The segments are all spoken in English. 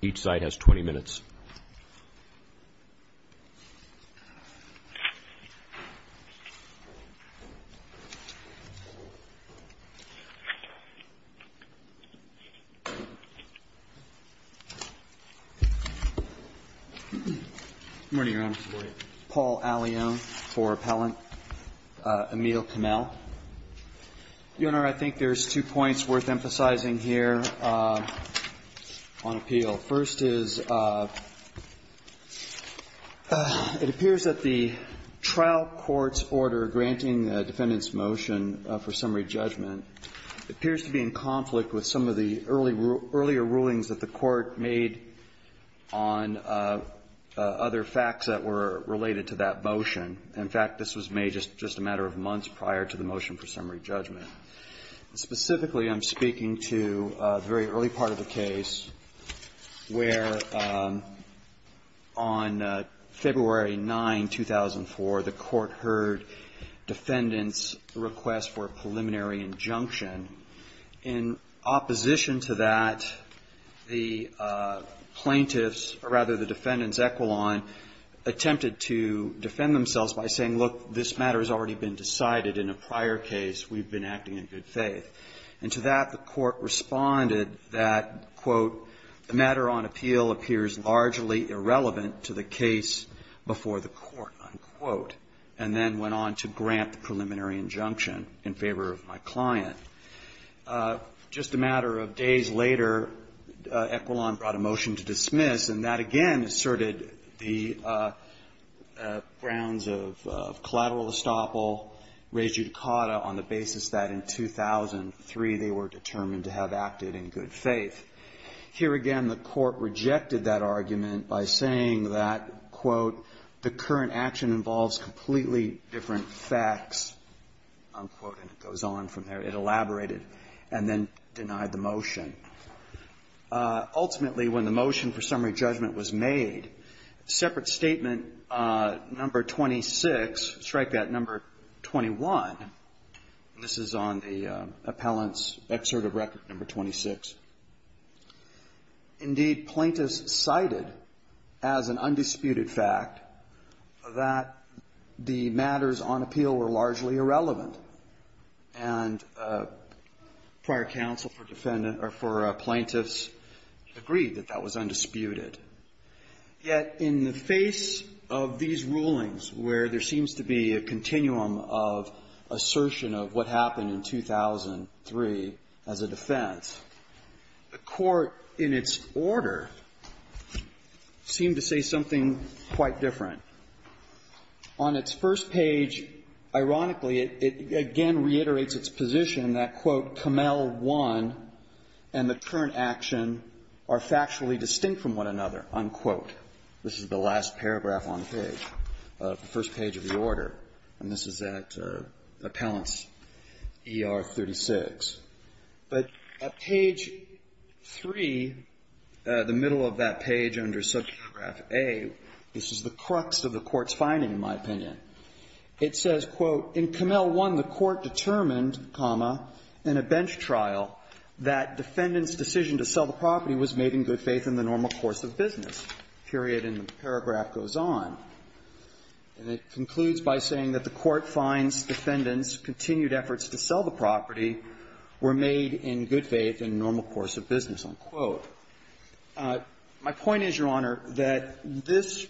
Each side has 20 minutes. Good morning, Your Honor. Paul Allione, four-appellant, Emile Kamel. Your Honor, I think there's two points worth emphasizing here on appeal. First is, it appears that the trial court's order granting the defendant's motion for summary judgment appears to be in conflict with some of the early rule – earlier rulings that the Court made on other facts that were related to that motion. In fact, this was made just a matter of months prior to the motion for summary judgment. Specifically, I'm speaking to the very early part of the case where, on February 9, 2004, the Court heard defendant's request for a preliminary injunction. In opposition to that, the plaintiff's – or rather, the defendant's equivalent attempted to defend themselves by saying, look, this matter has already been decided in a prior case, we've been acting in good faith. And to that, the Court responded that, quote, the matter on appeal appears largely irrelevant to the case before the Court, unquote, and then went on to grant the preliminary injunction in favor of my client. Just a matter of days later, Equilon brought a motion to dismiss, and that again asserted the grounds of collateral estoppel, res judicata, on the basis that in 2003, they were determined to have acted in good faith. Here again, the Court rejected that argument by saying that, quote, the current action involves completely different facts, unquote, and it goes on from there. It elaborated and then denied the motion. Ultimately, when the motion for summary judgment was made, separate statement number 26, strike that number 21, and this is on the appellant's excerpt of record number 26. Indeed, plaintiffs cited as an undisputed fact that the matters on appeal were largely irrelevant, and prior counsel for defendant or for plaintiffs agreed that that was undisputed. Yet in the face of these rulings where there seems to be a continuum of assertion of what happened in 2003 as a defense, the Court in its order seemed to say something quite different. On its first page, ironically, it again reiterates its position that, quote, Camel 1 and the current action are factually distinct from one another, unquote. This is the last paragraph on the page, the first page of the order, and this is at Appellant's ER 36. But at page 3, the middle of that page under sub-paragraph A, this is the crux of the Court's finding, in my opinion. It says, quote, In Camel 1, the Court determined, comma, in a bench trial that defendant's decision to sell the property was made in good faith in the normal course of business, period. And the paragraph goes on, and it concludes by saying that the Court finds defendant's continued efforts to sell the property were made in good faith in normal course of business, unquote. My point is, Your Honor, that this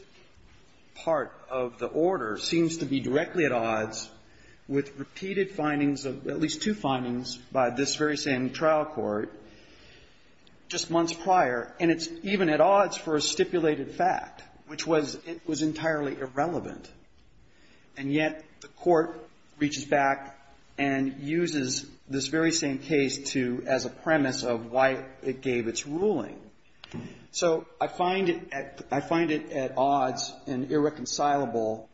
part of the order seems to be directly at odds with repeated findings of at least two findings by this very same trial court just months prior, and it's even at odds for a stipulated fact, which was entirely irrelevant. And yet the Court reaches back and uses this very same case to as a premise of why it gave its ruling. So I find it at odds and irreconcilable.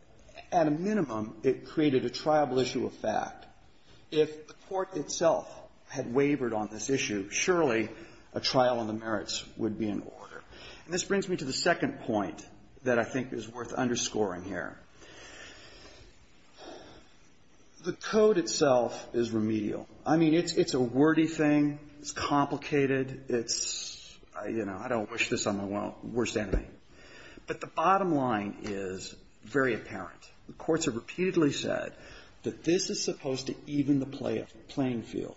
At a minimum, it created a triable issue of fact. If the Court itself had wavered on this issue, surely a trial on the merits would be in order. And this brings me to the second point that I think is worth underscoring here. The code itself is remedial. I mean, it's a wordy thing. It's complicated. It's, you know, I don't wish this on my worst enemy. But the bottom line is very apparent. The courts have repeatedly said that this is supposed to even the playing field.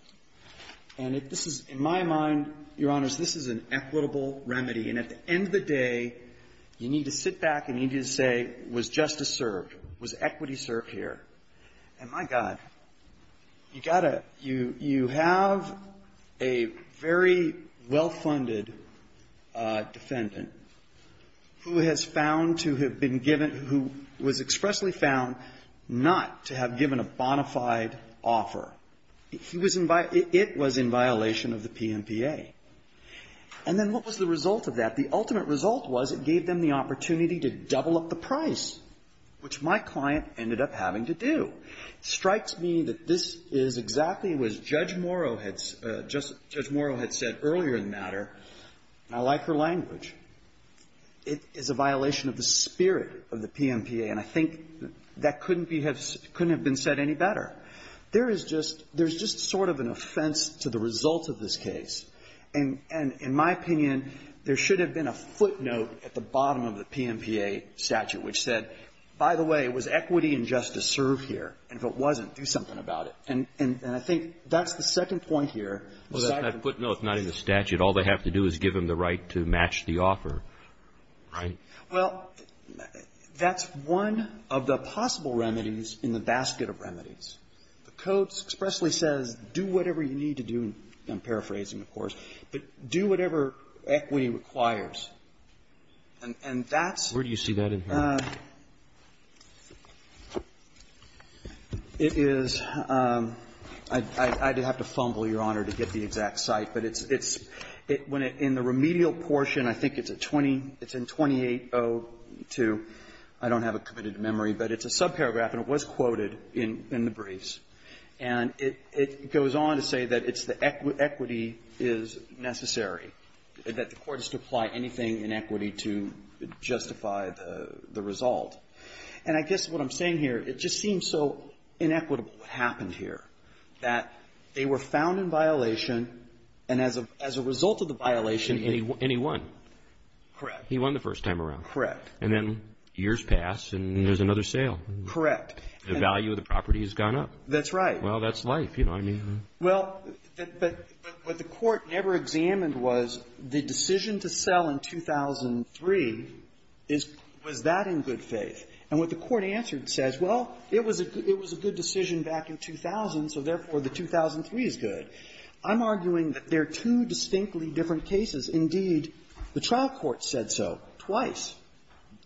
And if this is, in my mind, Your Honors, this is an equitable remedy. And at the end of the day, you need to sit back and you need to say, was justice served? Was equity served here? And my God, you got to you have a very well-funded defendant who has found to have been given, who was expressly found not to have given a bona fide offer. He was in, it was in violation of the PNPA. And then what was the result of that? The ultimate result was it gave them the opportunity to double up the price, which my client ended up having to do. Strikes me that this is exactly what Judge Morrow had said earlier in the matter. I like her language. It is a violation of the spirit of the PNPA, and I think that couldn't have been said any better. There is just sort of an offense to the result of this case. And in my opinion, there should have been a footnote at the bottom of the PNPA statute, which said, by the way, was equity and justice served here? And if it wasn't, do something about it. And I think that's the second point here. Well, that footnote's not in the statute. All they have to do is give them the right to match the offer, right? Well, that's one of the possible remedies in the basket of remedies. The Codes expressly says, do whatever you need to do, and I'm paraphrasing, of course, but do whatever equity requires. And that's the question. And that's the question. Where do you see that in here? It is – I'd have to fumble, Your Honor, to get the exact site, but it's – when it – in the remedial portion, I think it's a 20 – it's in 2802. I don't have a committed memory, but it's a subparagraph, and it was quoted in the briefs. And it goes on to say that it's the equity is necessary, that the Court is to apply anything in equity to justify the result. And I guess what I'm saying here, it just seems so inequitable, what happened here, that they were found in violation, and as a result of the violation, they – And he won. Correct. He won the first time around. Correct. And then years pass, and there's another sale. Correct. The value of the property has gone up. That's right. Well, that's life. You know what I mean? Well, but what the Court never examined was, the decision to sell in 2003, is – was that in good faith? And what the Court answered says, well, it was a good decision back in 2000, so therefore, the 2003 is good. I'm arguing that they're two distinctly different cases. Indeed, the trial court said so twice,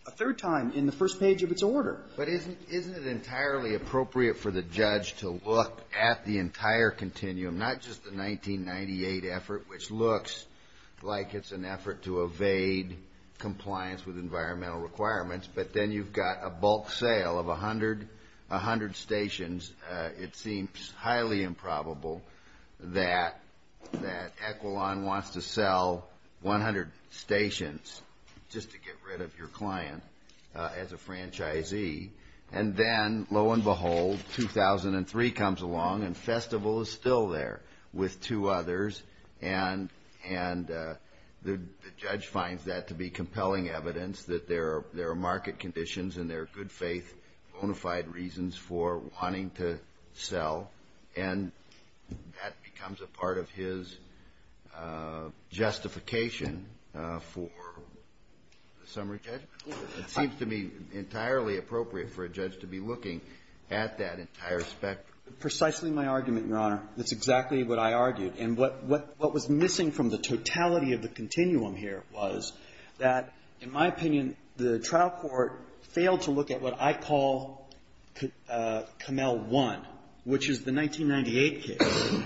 a third time in the first page of its order. But isn't – isn't it entirely appropriate for the judge to look at the entire continuum, not just the 1998 effort, which looks like it's an effort to evade compliance with environmental requirements, but then you've got a bulk sale of 100 – 100 stations. It seems highly improbable that – that Equilon wants to sell 100 stations just to get rid of your client as a franchisee. And then, lo and behold, 2003 comes along and Festival is still there with two others, and the judge finds that to be compelling evidence that there are – there are market conditions and there are good faith bona fide reasons for wanting to sell, and that becomes a part of his justification for the summary judgment. It seems to me entirely appropriate for a judge to be looking at that entire spectrum. Precisely my argument, Your Honor. That's exactly what I argued. And what – what was missing from the totality of the continuum here was that, in my opinion, the trial court failed to look at what I call Commel I, which is the 1998 case.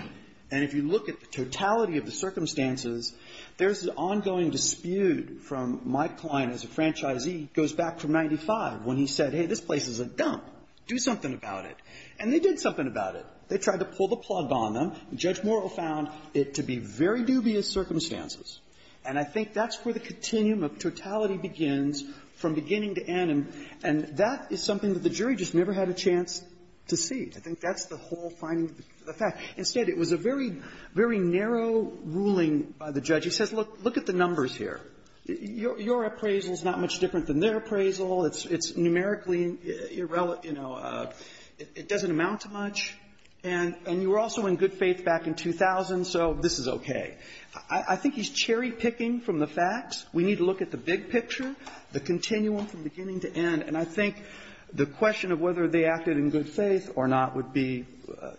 And if you look at the totality of the circumstances, there's an ongoing dispute from Mike Klein as a franchisee. He goes back from 1995 when he said, hey, this place is a dump. Do something about it. And they did something about it. They tried to pull the plug on them. Judge Morrill found it to be very dubious circumstances. And I think that's where the continuum of totality begins from beginning to end, and that is something that the jury just never had a chance to see. I think that's the whole finding of the fact. Instead, it was a very, very narrow ruling by the judge. He says, look, look at the numbers here. Your appraisal is not much different than their appraisal. It's numerically irrelevant, you know, it doesn't amount to much. And you were also in good faith back in 2000, so this is okay. I think he's cherry-picking from the facts. We need to look at the big picture, the continuum from beginning to end. And I think the question of whether they acted in good faith or not would be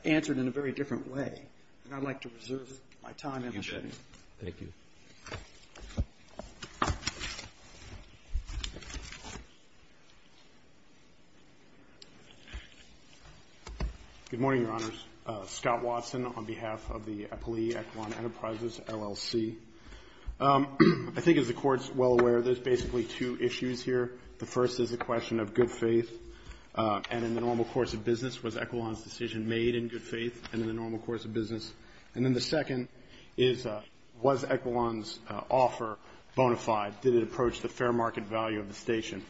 answered in a very different way. And I'd like to reserve my time and opportunity. Thank you. Good morning, Your Honors. Scott Watson on behalf of the Eppley Echelon Enterprises, LLC. I think as the Court's well aware, there's basically two issues here. The first is a question of good faith and in the normal course of business. Was Echelon's decision made in good faith and in the normal course of business? And then the second is, was Echelon's offer bona fide? Did it approach the fair market value of the station?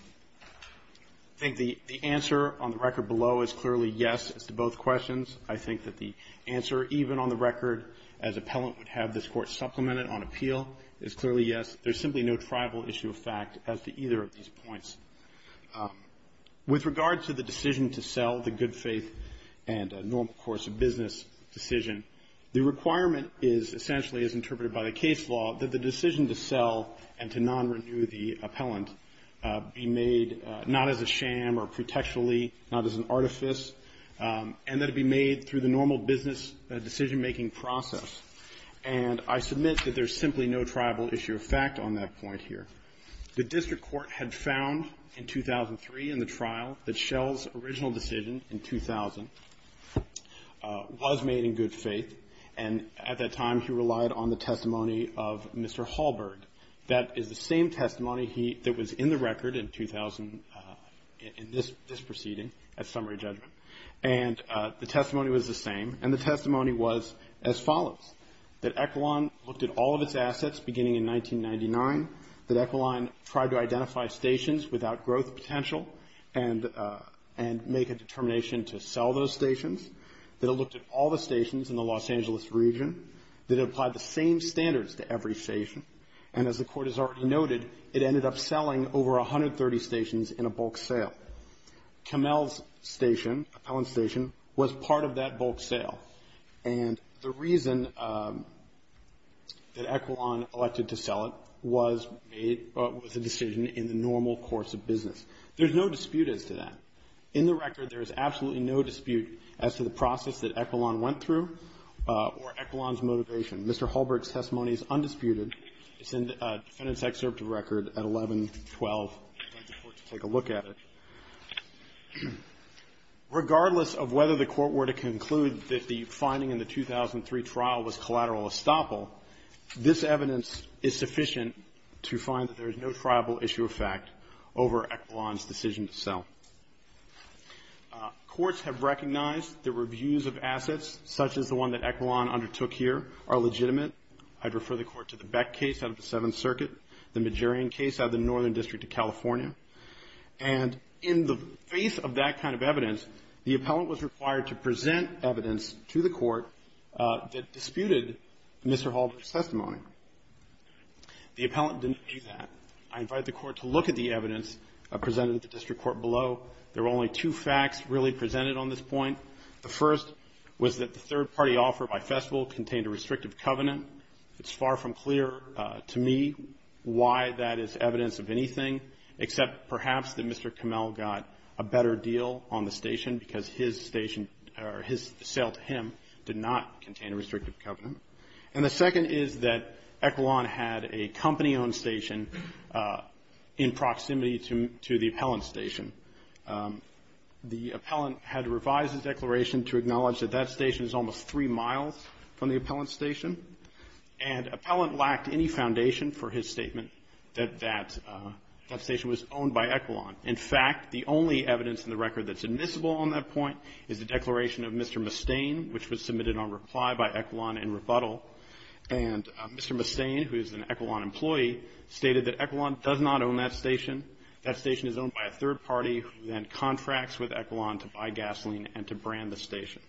I think the answer on the record below is clearly yes as to both questions. I think that the answer even on the record as appellant would have this Court supplemented on appeal is clearly yes. There's simply no tribal issue of fact as to either of these points. With regard to the decision to sell the good faith and normal course of business decision, the requirement is essentially as interpreted by the case law that the decision to sell and to non-renew the appellant be made not as a sham or pretextually, not as an artifice. And that it be made through the normal business decision making process. And I submit that there's simply no tribal issue of fact on that point here. The district court had found in 2003 in the trial that Shell's original decision in 2000 was made in good faith and at that time he relied on the testimony of Mr. Hallberg. That is the same testimony that was in the record in 2000, in this proceeding at summary judgment. And the testimony was the same and the testimony was as follows. That Equaline looked at all of its assets beginning in 1999. That Equaline tried to identify stations without growth potential and make a determination to sell those stations. That it looked at all the stations in the Los Angeles region. That it applied the same standards to every station. And as the Court has already noted, it ended up selling over 130 stations in a bulk sale. Camel's station, Appellant's station, was part of that bulk sale. And the reason that Equaline elected to sell it was a decision in the normal course of business. There's no dispute as to that. In the record, there is absolutely no dispute as to the process that Equaline went through or Equaline's motivation. Mr. Hallberg's testimony is undisputed. It's in the defendant's excerpt of record at 1112. I'd like the Court to take a look at it. Regardless of whether the Court were to conclude that the finding in the 2003 trial was collateral estoppel, this evidence is sufficient to find that there is no triable issue of fact over Equaline's decision to sell. Courts have recognized the reviews of assets, such as the one that Equaline undertook here, are legitimate. I'd refer the Court to the Beck case out of the Seventh Circuit, the Magerian case out of the Northern District of California. And in the face of that kind of evidence, the Appellant was required to present evidence to the Court that disputed Mr. Hallberg's testimony. The Appellant didn't do that. I invite the Court to look at the evidence presented at the District Court below. There were only two facts really presented on this point. The first was that the third-party offer by Festival contained a restrictive covenant. It's far from clear to me why that is evidence of anything, except perhaps that Mr. Camel got a better deal on the station because his sale to him did not contain a restrictive covenant. And the second is that Equaline had a company-owned station in proximity to the Appellant's station. The Appellant had revised his declaration to acknowledge that that station is almost three miles from the Appellant's station. And Appellant lacked any foundation for his statement that that station was owned by Equaline. In fact, the only evidence in the record that's admissible on that point is the declaration of Mr. Mustaine, which was submitted on reply by Equaline in rebuttal. And Mr. Mustaine, who is an Equaline employee, stated that Equaline does not own that station. That station is owned by a third party who then contracts with Equaline to buy gasoline and to brand the station.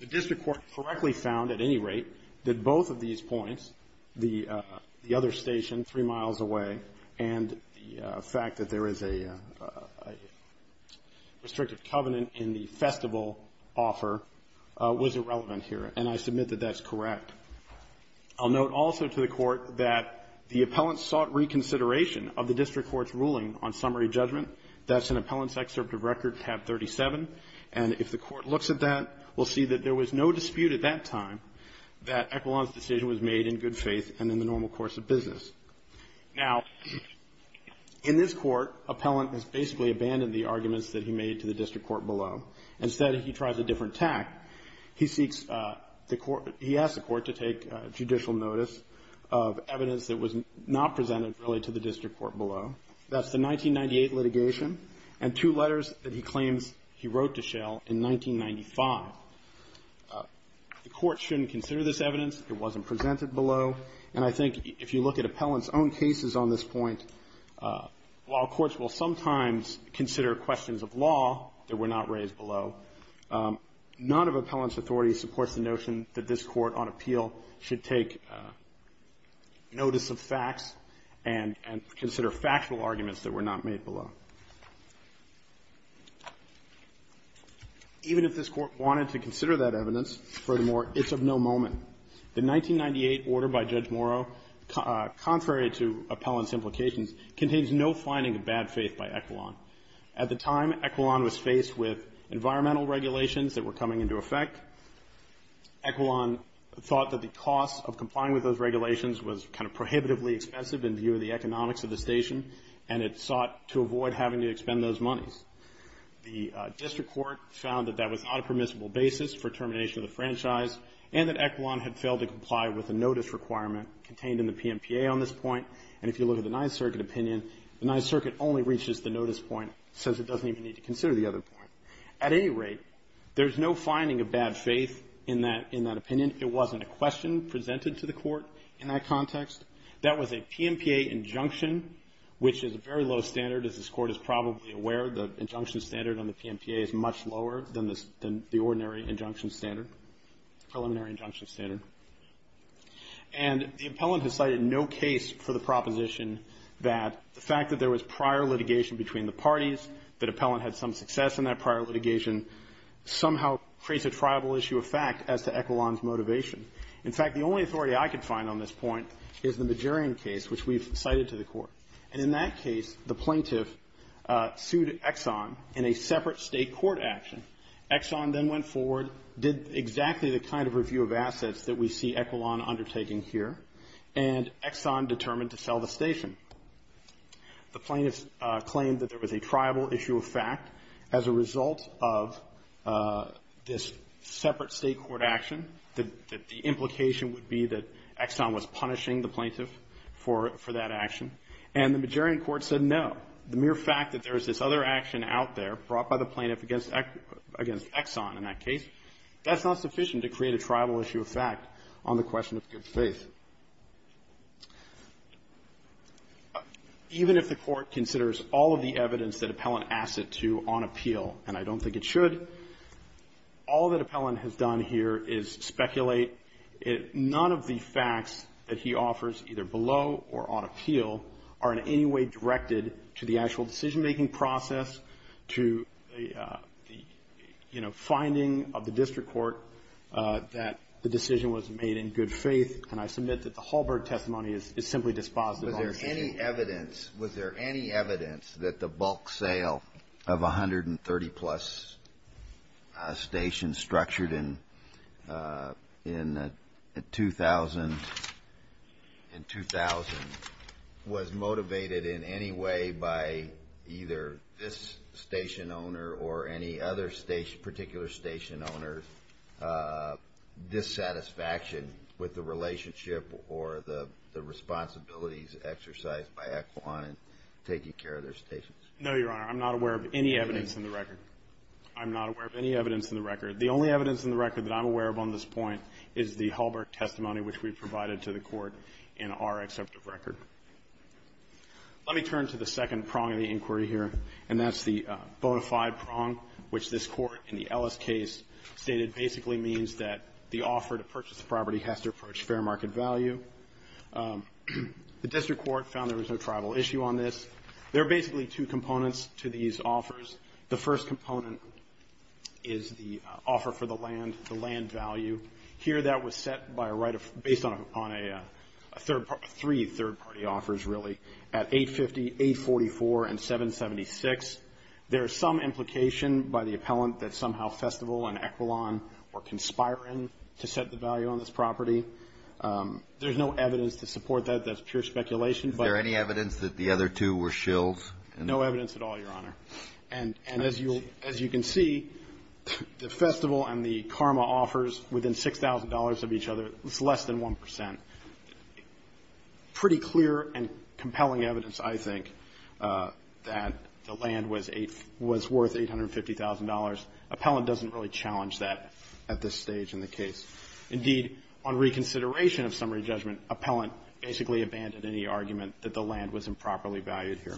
The district court correctly found, at any rate, that both of these points, the other station three miles away, and the fact that there is a restrictive covenant in the Festival offer, was irrelevant here. And I submit that that's correct. I'll note also to the court that the Appellant sought reconsideration of the district court's ruling on summary judgment. That's in Appellant's excerpt of record tab 37. And if the court looks at that, we'll see that there was no dispute at that time that Equaline's decision was made in good faith and in the normal course of business. Now, in this court, Appellant has basically abandoned the arguments that he made to the district court below. Instead, he tries a different tack. He asks the court to take judicial notice of evidence that was not presented, really, to the district court below. That's the 1998 litigation and two letters that he claims he wrote to Schell in 1995. The court shouldn't consider this evidence. It wasn't presented below. And I think if you look at Appellant's own cases on this point, while courts will sometimes consider questions of law that were not raised below, none of Appellant's authority supports the notion that this court on appeal should take notice of facts and consider factual arguments that were not made below. Even if this court wanted to consider that evidence, furthermore, it's of no moment. The 1998 order by Judge Morrow, contrary to Appellant's implications, contains no finding of bad faith by Equaline. At the time, Equaline was faced with environmental regulations that were coming into effect. Equaline thought that the cost of complying with those regulations was kind of prohibitively expensive in view of the economics of the station, and it sought to avoid having to expend those monies. The district court found that that was not a permissible basis for termination of the franchise, and that Equaline had failed to comply with a notice requirement contained in the PMPA on this point. And if you look at the Ninth Circuit opinion, the Ninth Circuit only reaches the notice point, says it doesn't even need to consider the other point. At any rate, there's no finding of bad faith in that opinion. It wasn't a question presented to the court in that context. That was a PMPA injunction, which is a very low standard, as this court is probably aware. The injunction standard on the PMPA is much lower than the ordinary injunction standard, preliminary injunction standard. And the appellant has cited no case for the proposition that the fact that there was prior litigation between the parties, that appellant had some success in that prior litigation, somehow creates a triable issue of fact as to Equaline's motivation. In fact, the only authority I could find on this point is the Majurian case, which we've cited to the court. And in that case, the plaintiff sued Exxon in a separate state court action. Exxon then went forward, did exactly the kind of review of assets that we see Equaline undertaking here, and Exxon determined to sell the station. The plaintiff claimed that there was a triable issue of fact as a result of this separate state court action, that the implication would be that Exxon was punishing the plaintiff for that action. And the Majurian court said no. The mere fact that there's this other action out there brought by the plaintiff against Exxon in that case, that's not sufficient to create a triable issue of fact on the question of good faith. Even if the court considers all of the evidence that appellant asked it to on appeal, and I don't think it should, all that appellant has done here is speculate. None of the facts that he offers, either below or on appeal, are in any way directed to the actual decision-making process, to the finding of the district court that the decision was made in good faith. And I submit that the Hallberg testimony is simply dispositive on this issue. Was there any evidence that the bulk sale of 130 plus stations structured in 2000 was motivated in any way by either this station owner or any other particular station owner dissatisfaction with the relationship or the responsibilities exercised by Exxon in taking care of their stations? No, Your Honor. I'm not aware of any evidence in the record. I'm not aware of any evidence in the record. The only evidence in the record that I'm aware of on this point is the Hallberg testimony, which we provided to the court in our exceptive record. Let me turn to the second prong of the inquiry here, and that's the bona fide prong, which this court in the Ellis case stated basically means that the offer to purchase the property has to approach fair market value. The district court found there was no tribal issue on this. There are basically two components to these offers. The first component is the offer for the land, the land value. Here that was set based on three third-party offers, really, at 850, 844, and 776. There is some implication by the appellant that somehow Festival and Equilon were conspiring to set the value on this property. There's no evidence to support that. That's pure speculation. Is there any evidence that the other two were shills? No evidence at all, Your Honor. And as you can see, the Festival and the Karma offers within $6,000 of each other, it's less than 1%. Pretty clear and compelling evidence, I think, that the land was worth $850,000. Appellant doesn't really challenge that at this stage in the case. Indeed, on reconsideration of summary judgment, appellant basically abandoned any argument that the land was improperly valued here.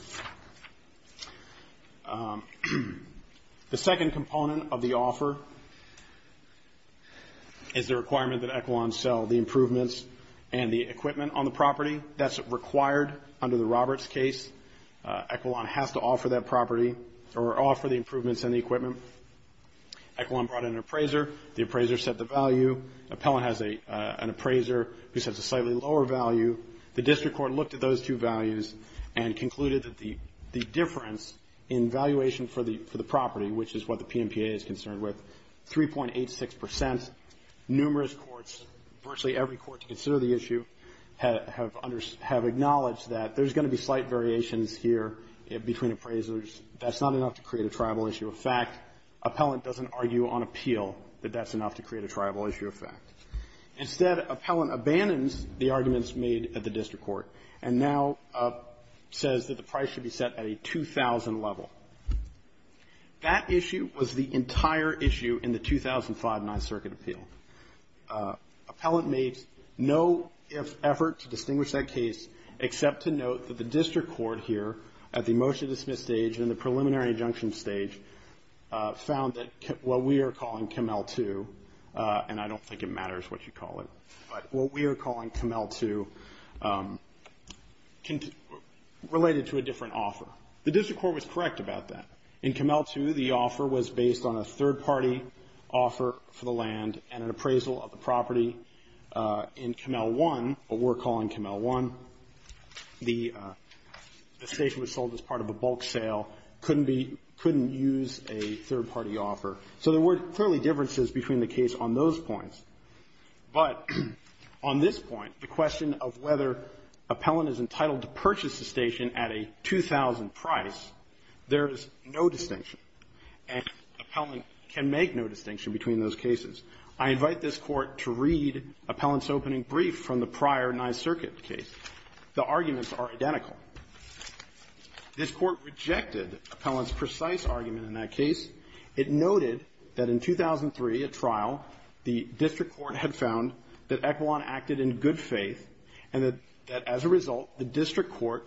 The second component of the offer is the requirement that Equilon sell the improvements and the equipment on the property. That's required under the Roberts case. Equilon has to offer that property or offer the improvements and the equipment. Equilon brought in an appraiser. The appraiser set the value. Appellant has an appraiser who sets a slightly lower value. The district court looked at those two values and concluded that the difference in valuation for the property, which is what the PMPA is concerned with, 3.86%. Numerous courts, virtually every court to consider the issue, have acknowledged that there's going to be slight variations here between appraisers. That's not enough to create a tribal issue of fact. Appellant doesn't argue on appeal that that's enough to create a tribal issue of fact. Instead, appellant abandons the arguments made at the district court and now says that the price should be set at a 2,000 level. That issue was the entire issue in the 2005 Ninth Circuit Appeal. Appellant made no effort to distinguish that case, except to note that the district court here, at the motion-dismissed stage and the preliminary injunction stage, found that what we are calling Camel 2, and I don't think it matters what you call it, but what we are calling Camel 2 related to a different offer. The district court was correct about that. In Camel 2, the offer was based on a third-party offer for the land and an appraisal of the property. In Camel 1, what we're calling Camel 1, the station was sold as part of a bulk sale. Couldn't use a third-party offer. So there were clearly differences between the case on those points. But on this point, the question of whether appellant is entitled to purchase the station at a 2,000 price, there is no distinction. And appellant can make no distinction between those cases. I invite this Court to read appellant's opening brief from the prior Ninth Circuit case. The arguments are identical. This Court rejected appellant's precise argument in that case. It noted that in 2003, at trial, the district court had found that appellant acted in good faith. And that as a result, the district court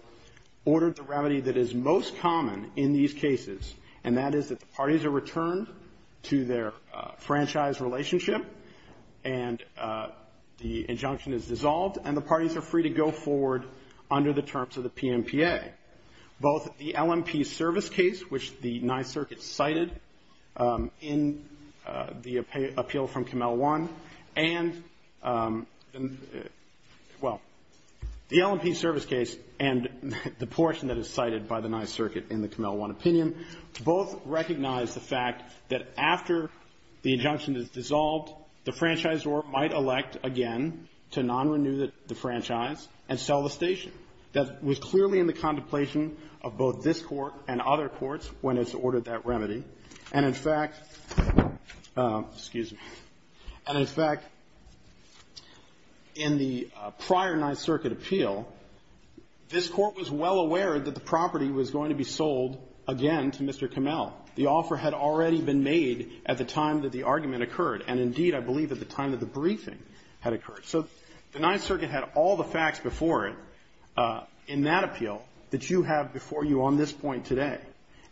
ordered the remedy that is most common in these cases. And that is that the parties are returned to their franchise relationship. And the injunction is dissolved, and the parties are free to go forward under the terms of the PNPA. Both the LMP service case, which the Ninth Circuit cited in the appeal from Camel 1, and, well, the LMP service case and the portion that is cited by the Ninth Circuit in the Camel 1 opinion, both recognize the fact that after the injunction is dissolved, the franchisor might elect again to non-renew the franchise and sell the station. That was clearly in the contemplation of both this Court and other courts when it's ordered that remedy. And in fact, excuse me, and in fact, in the prior Ninth Circuit appeal, this Court was well aware that the property was going to be sold again to Mr. Camel. The offer had already been made at the time that the argument occurred. And indeed, I believe at the time that the briefing had occurred. So the Ninth Circuit had all the facts before it in that appeal that you have before you on this point today.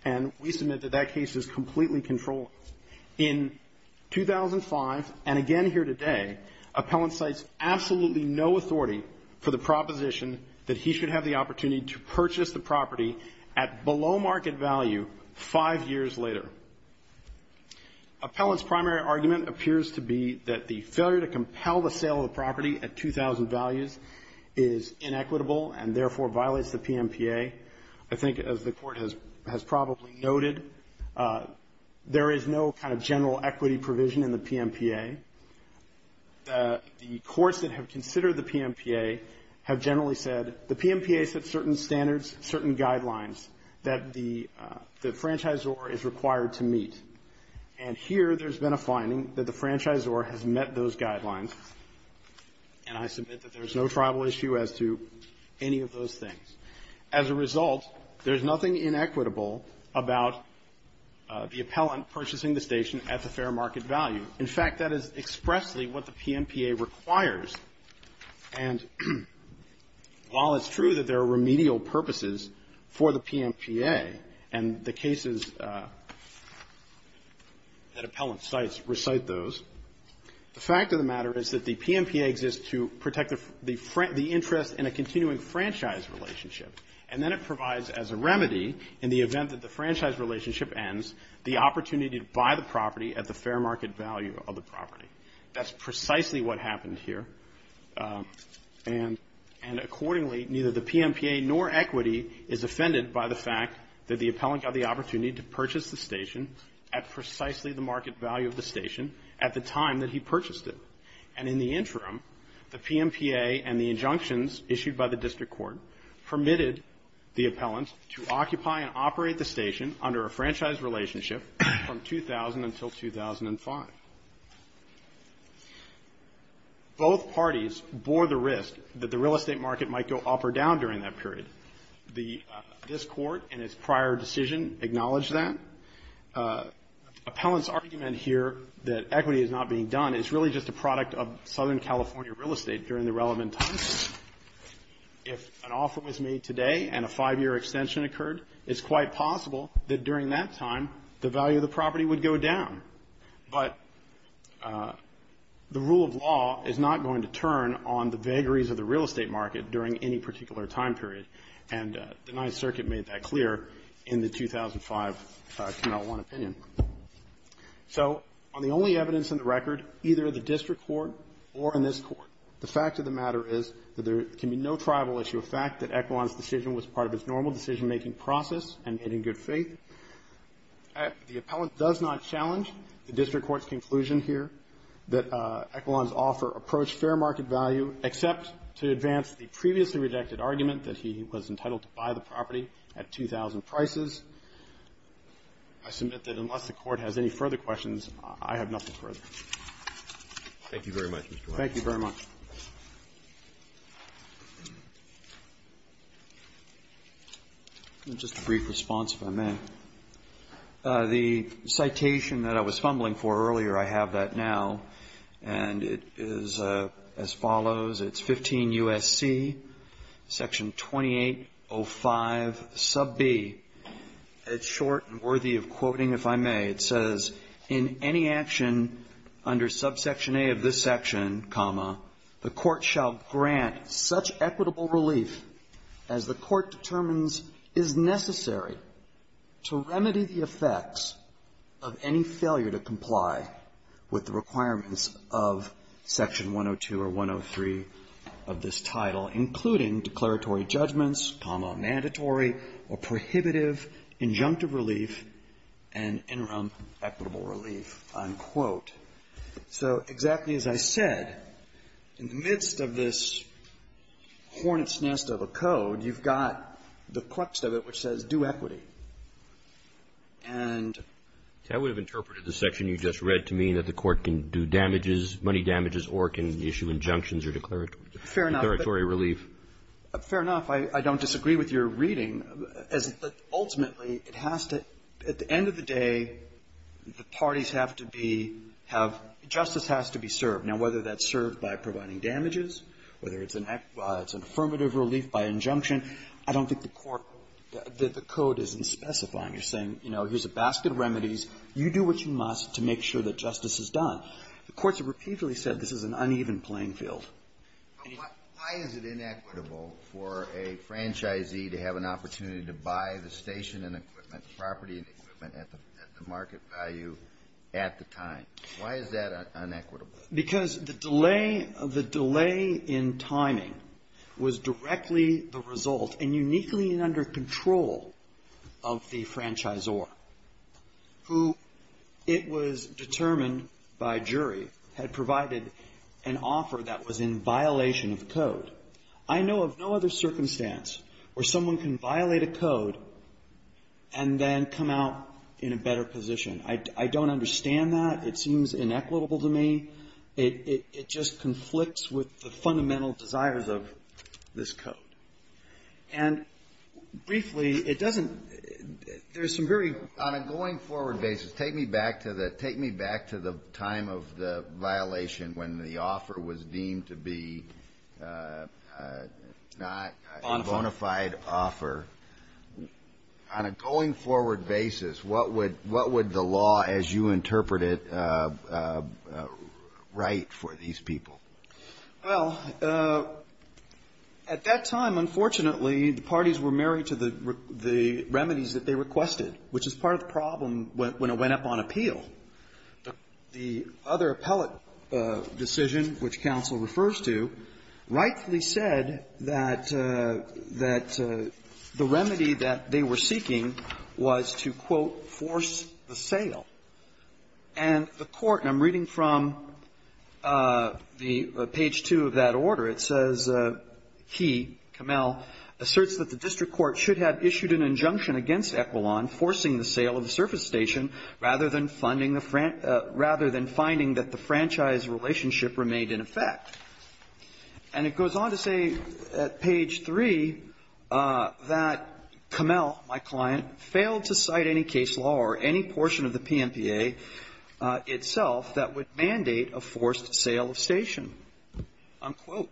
And we submit that that case is completely controlled. In 2005, and again here today, Appellant cites absolutely no authority for the proposition that he should have the opportunity to purchase the property at below market value five years later. Appellant's primary argument appears to be that the failure to compel the sale of the property at 2,000 values is inequitable and therefore violates the PMPA. I think, as the Court has probably noted, there is no kind of general equity provision in the PMPA. The courts that have considered the PMPA have generally said, the PMPA sets certain standards, certain guidelines that the franchisor is required to meet. And here, there's been a finding that the franchisor has met those guidelines. And I submit that there's no tribal issue as to any of those things. As a result, there's nothing inequitable about the appellant purchasing the station at the fair market value. In fact, that is expressly what the PMPA requires. And while it's true that there are remedial purposes for the PMPA, and the cases that Appellant cites recite those, the fact of the matter is that the PMPA exists to protect the interest in a continuing franchise relationship. And then it provides as a remedy, in the event that the franchise relationship ends, the opportunity to buy the property at the fair market value of the property. That's precisely what happened here. And accordingly, neither the PMPA nor equity is offended by the fact that the appellant got the opportunity to purchase the station at precisely the market value of the station at the time that he purchased it. And in the interim, the PMPA and the injunctions issued by the district court permitted the appellant to occupy and operate the station under a franchise relationship from 2000 until 2005. Both parties bore the risk that the real estate market might go up or down during that period. This court, in its prior decision, acknowledged that. Appellant's argument here that equity is not being done is really just a product of Southern California real estate during the relevant times. If an offer was made today and a five-year extension occurred, it's quite possible that during that time, the value of the property would go down. But the rule of law is not going to turn on the vagaries of the real estate market during any particular time period. And the Ninth Circuit made that clear in the 2005 KML 1 opinion. So on the only evidence in the record, either the district court or in this court, the fact of the matter is that there can be no tribal issue of fact that Equan's decision was part of his normal decision-making process and in good faith. The appellant does not challenge the district court's conclusion here that Equan's offer approached fair market value except to advance the previously rejected argument that he was entitled to buy the property at 2,000 prices. I submit that unless the court has any further questions, I have nothing further. Thank you very much, Mr. White. Thank you very much. Just a brief response, if I may. The citation that I was fumbling for earlier, I have that now, and it is as follows. It's 15 U.S.C., Section 2805, Sub B. It's short and worthy of quoting, if I may. It says, In any action under subsection A of this section, the court shall grant such equitable relief as the court determines is necessary to remedy the effects of any failure to comply with the requirements of Section 102 or 103 of this title, including declaratory judgments, mandatory or prohibitive injunctive relief, and interim equitable relief, unquote. So exactly as I said, in the midst of this hornet's nest of a code, you've got the crux of it, which says due equity. And that would have interpreted the section you just read to mean that the court can do damages, money damages, or can issue injunctions or declaratory relief. Fair enough. I don't disagree with your reading, as ultimately it has to, at the end of the day, the parties have to be, have, justice has to be served. Now, whether that's served by providing damages, whether it's an affirmative relief by injunction, I don't think the court, the code isn't specifying. You're saying, you know, here's a basket of remedies. You do what you must to make sure that justice is done. The courts have repeatedly said this is an uneven playing field. Why is it inequitable for a franchisee to have an opportunity to buy the station and equipment, property and equipment at the market value at the time? Why is that inequitable? Because the delay, the delay in timing was directly the result, and uniquely under control of the franchisor, who, it was determined by jury, had provided an offer that was in violation of the code. I know of no other circumstance where someone can violate a code and then come out in a better position. I don't understand that. It seems inequitable to me. It just conflicts with the fundamental desires of this code. And briefly, it doesn't – there's some very – Take me back to the – take me back to the time of the violation when the offer was deemed to be not a bona fide offer. On a going forward basis, what would – what would the law as you interpret it write for these people? Well, at that time, unfortunately, the parties were married to the remedies that they went up on appeal. The other appellate decision, which counsel refers to, rightfully said that – that the remedy that they were seeking was to, quote, force the sale. And the court – and I'm reading from the page 2 of that order. It says he, Camel, asserts that the district court should have issued an injunction against Equilon forcing the sale of the surface station rather than funding the – rather than finding that the franchise relationship remained in effect. And it goes on to say at page 3 that Camel, my client, failed to cite any case law or any portion of the PMPA itself that would mandate a forced sale of station. Unquote.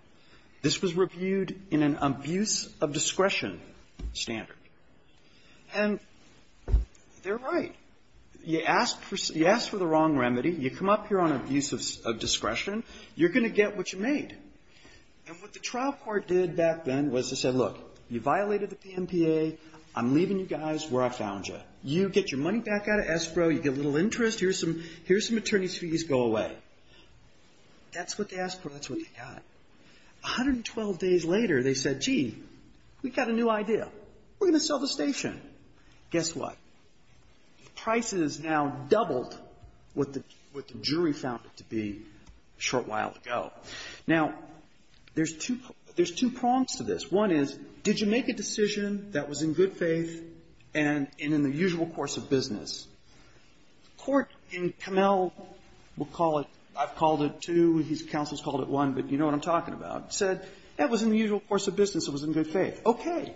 This was reviewed in an abuse of discretion standard. And they're right. You ask for – you ask for the wrong remedy. You come up here on abuse of discretion. You're going to get what you made. And what the trial court did back then was to say, look, you violated the PMPA. I'm leaving you guys where I found you. You get your money back out of ESPRO. You get a little interest. Here's some – here's some attorney's fees. Go away. That's what they asked for. That's what they got. 112 days later, they said, gee, we've got a new idea. We're going to sell the station. Guess what? The price has now doubled what the jury found it to be a short while ago. Now, there's two – there's two prongs to this. One is, did you make a decision that was in good faith and in the usual course of business? The court in Camel – we'll call it – I've called it two. His counsel's called it one. But you know what I'm talking about. Said that was in the usual course of business. It was in good faith. Okay.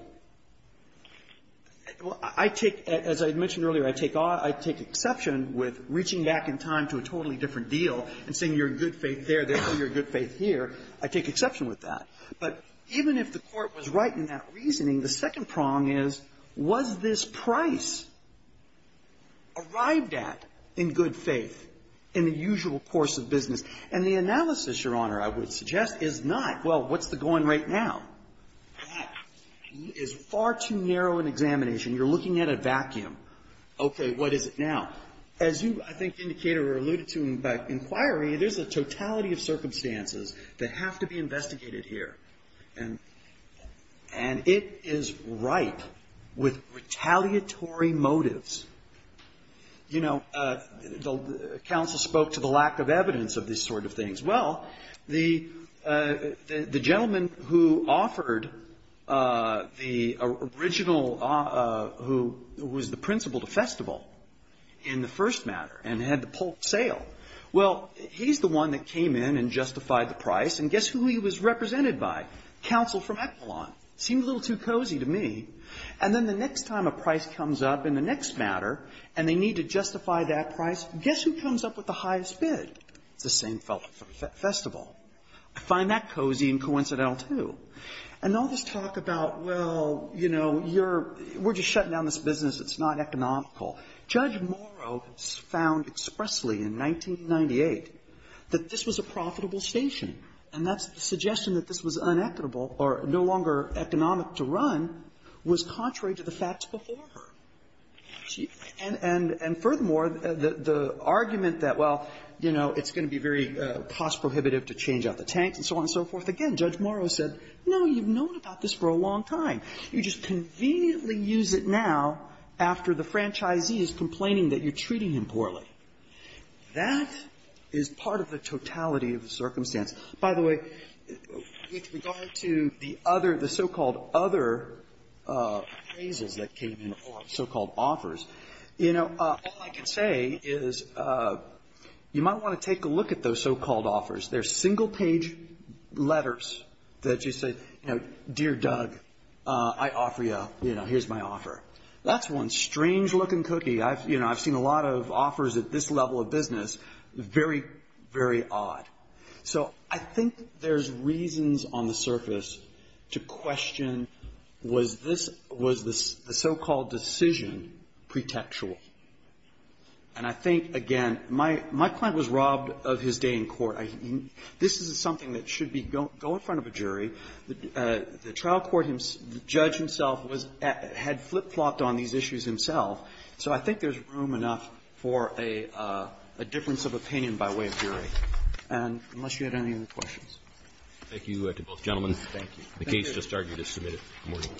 I take – as I mentioned earlier, I take – I take exception with reaching back in time to a totally different deal and saying you're in good faith there, therefore you're in good faith here. I take exception with that. But even if the court was right in that reasoning, the second prong is, was this price arrived at in good faith in the usual course of business? And the analysis, Your Honor, I would suggest is not, well, what's the going rate now? That is far too narrow an examination. You're looking at a vacuum. Okay. What is it now? As you, I think, Indicator, alluded to in the inquiry, there's a totality of circumstances that have to be investigated here. And it is ripe with retaliatory motives. You know, the counsel spoke to the lack of evidence of these sort of things. Well, the gentleman who offered the original – who was the principal to Festival in the first matter and had the Polk sale, well, he's the one that came in and justified the high. Counsel from Echelon. Seemed a little too cozy to me. And then the next time a price comes up in the next matter and they need to justify that price, guess who comes up with the highest bid? It's the same fellow from Festival. I find that cozy and coincidental, too. And all this talk about, well, you know, you're – we're just shutting down this business. It's not economical. Judge Morrow found expressly in 1998 that this was a profitable station. And that suggestion that this was unequitable or no longer economic to run was contrary to the facts before her. And furthermore, the argument that, well, you know, it's going to be very cost-prohibitive to change out the tanks and so on and so forth, again, Judge Morrow said, no, you've known about this for a long time. You just conveniently use it now after the franchisee is complaining that you're treating him poorly. That is part of the totality of the circumstance. By the way, with regard to the other – the so-called other appraisals that came in or so-called offers, you know, all I can say is you might want to take a look at those so-called offers. They're single-page letters that just say, you know, dear Doug, I offer you, you know, here's my offer. That's one strange-looking cookie. I've, you know, I've seen a lot of offers at this level of business, very, very odd. So I think there's reasons on the surface to question was this – was the so-called decision pretextual. And I think, again, my client was robbed of his day in court. This is something that should be – go in front of a jury. The trial court judge himself was – had flip-flopped on these issues himself. So I think there's room enough for a difference of opinion by way of jury. And unless you had any other questions. Roberts. Thank you to both gentlemen. Thank you. The case just argued is submitted. Good morning.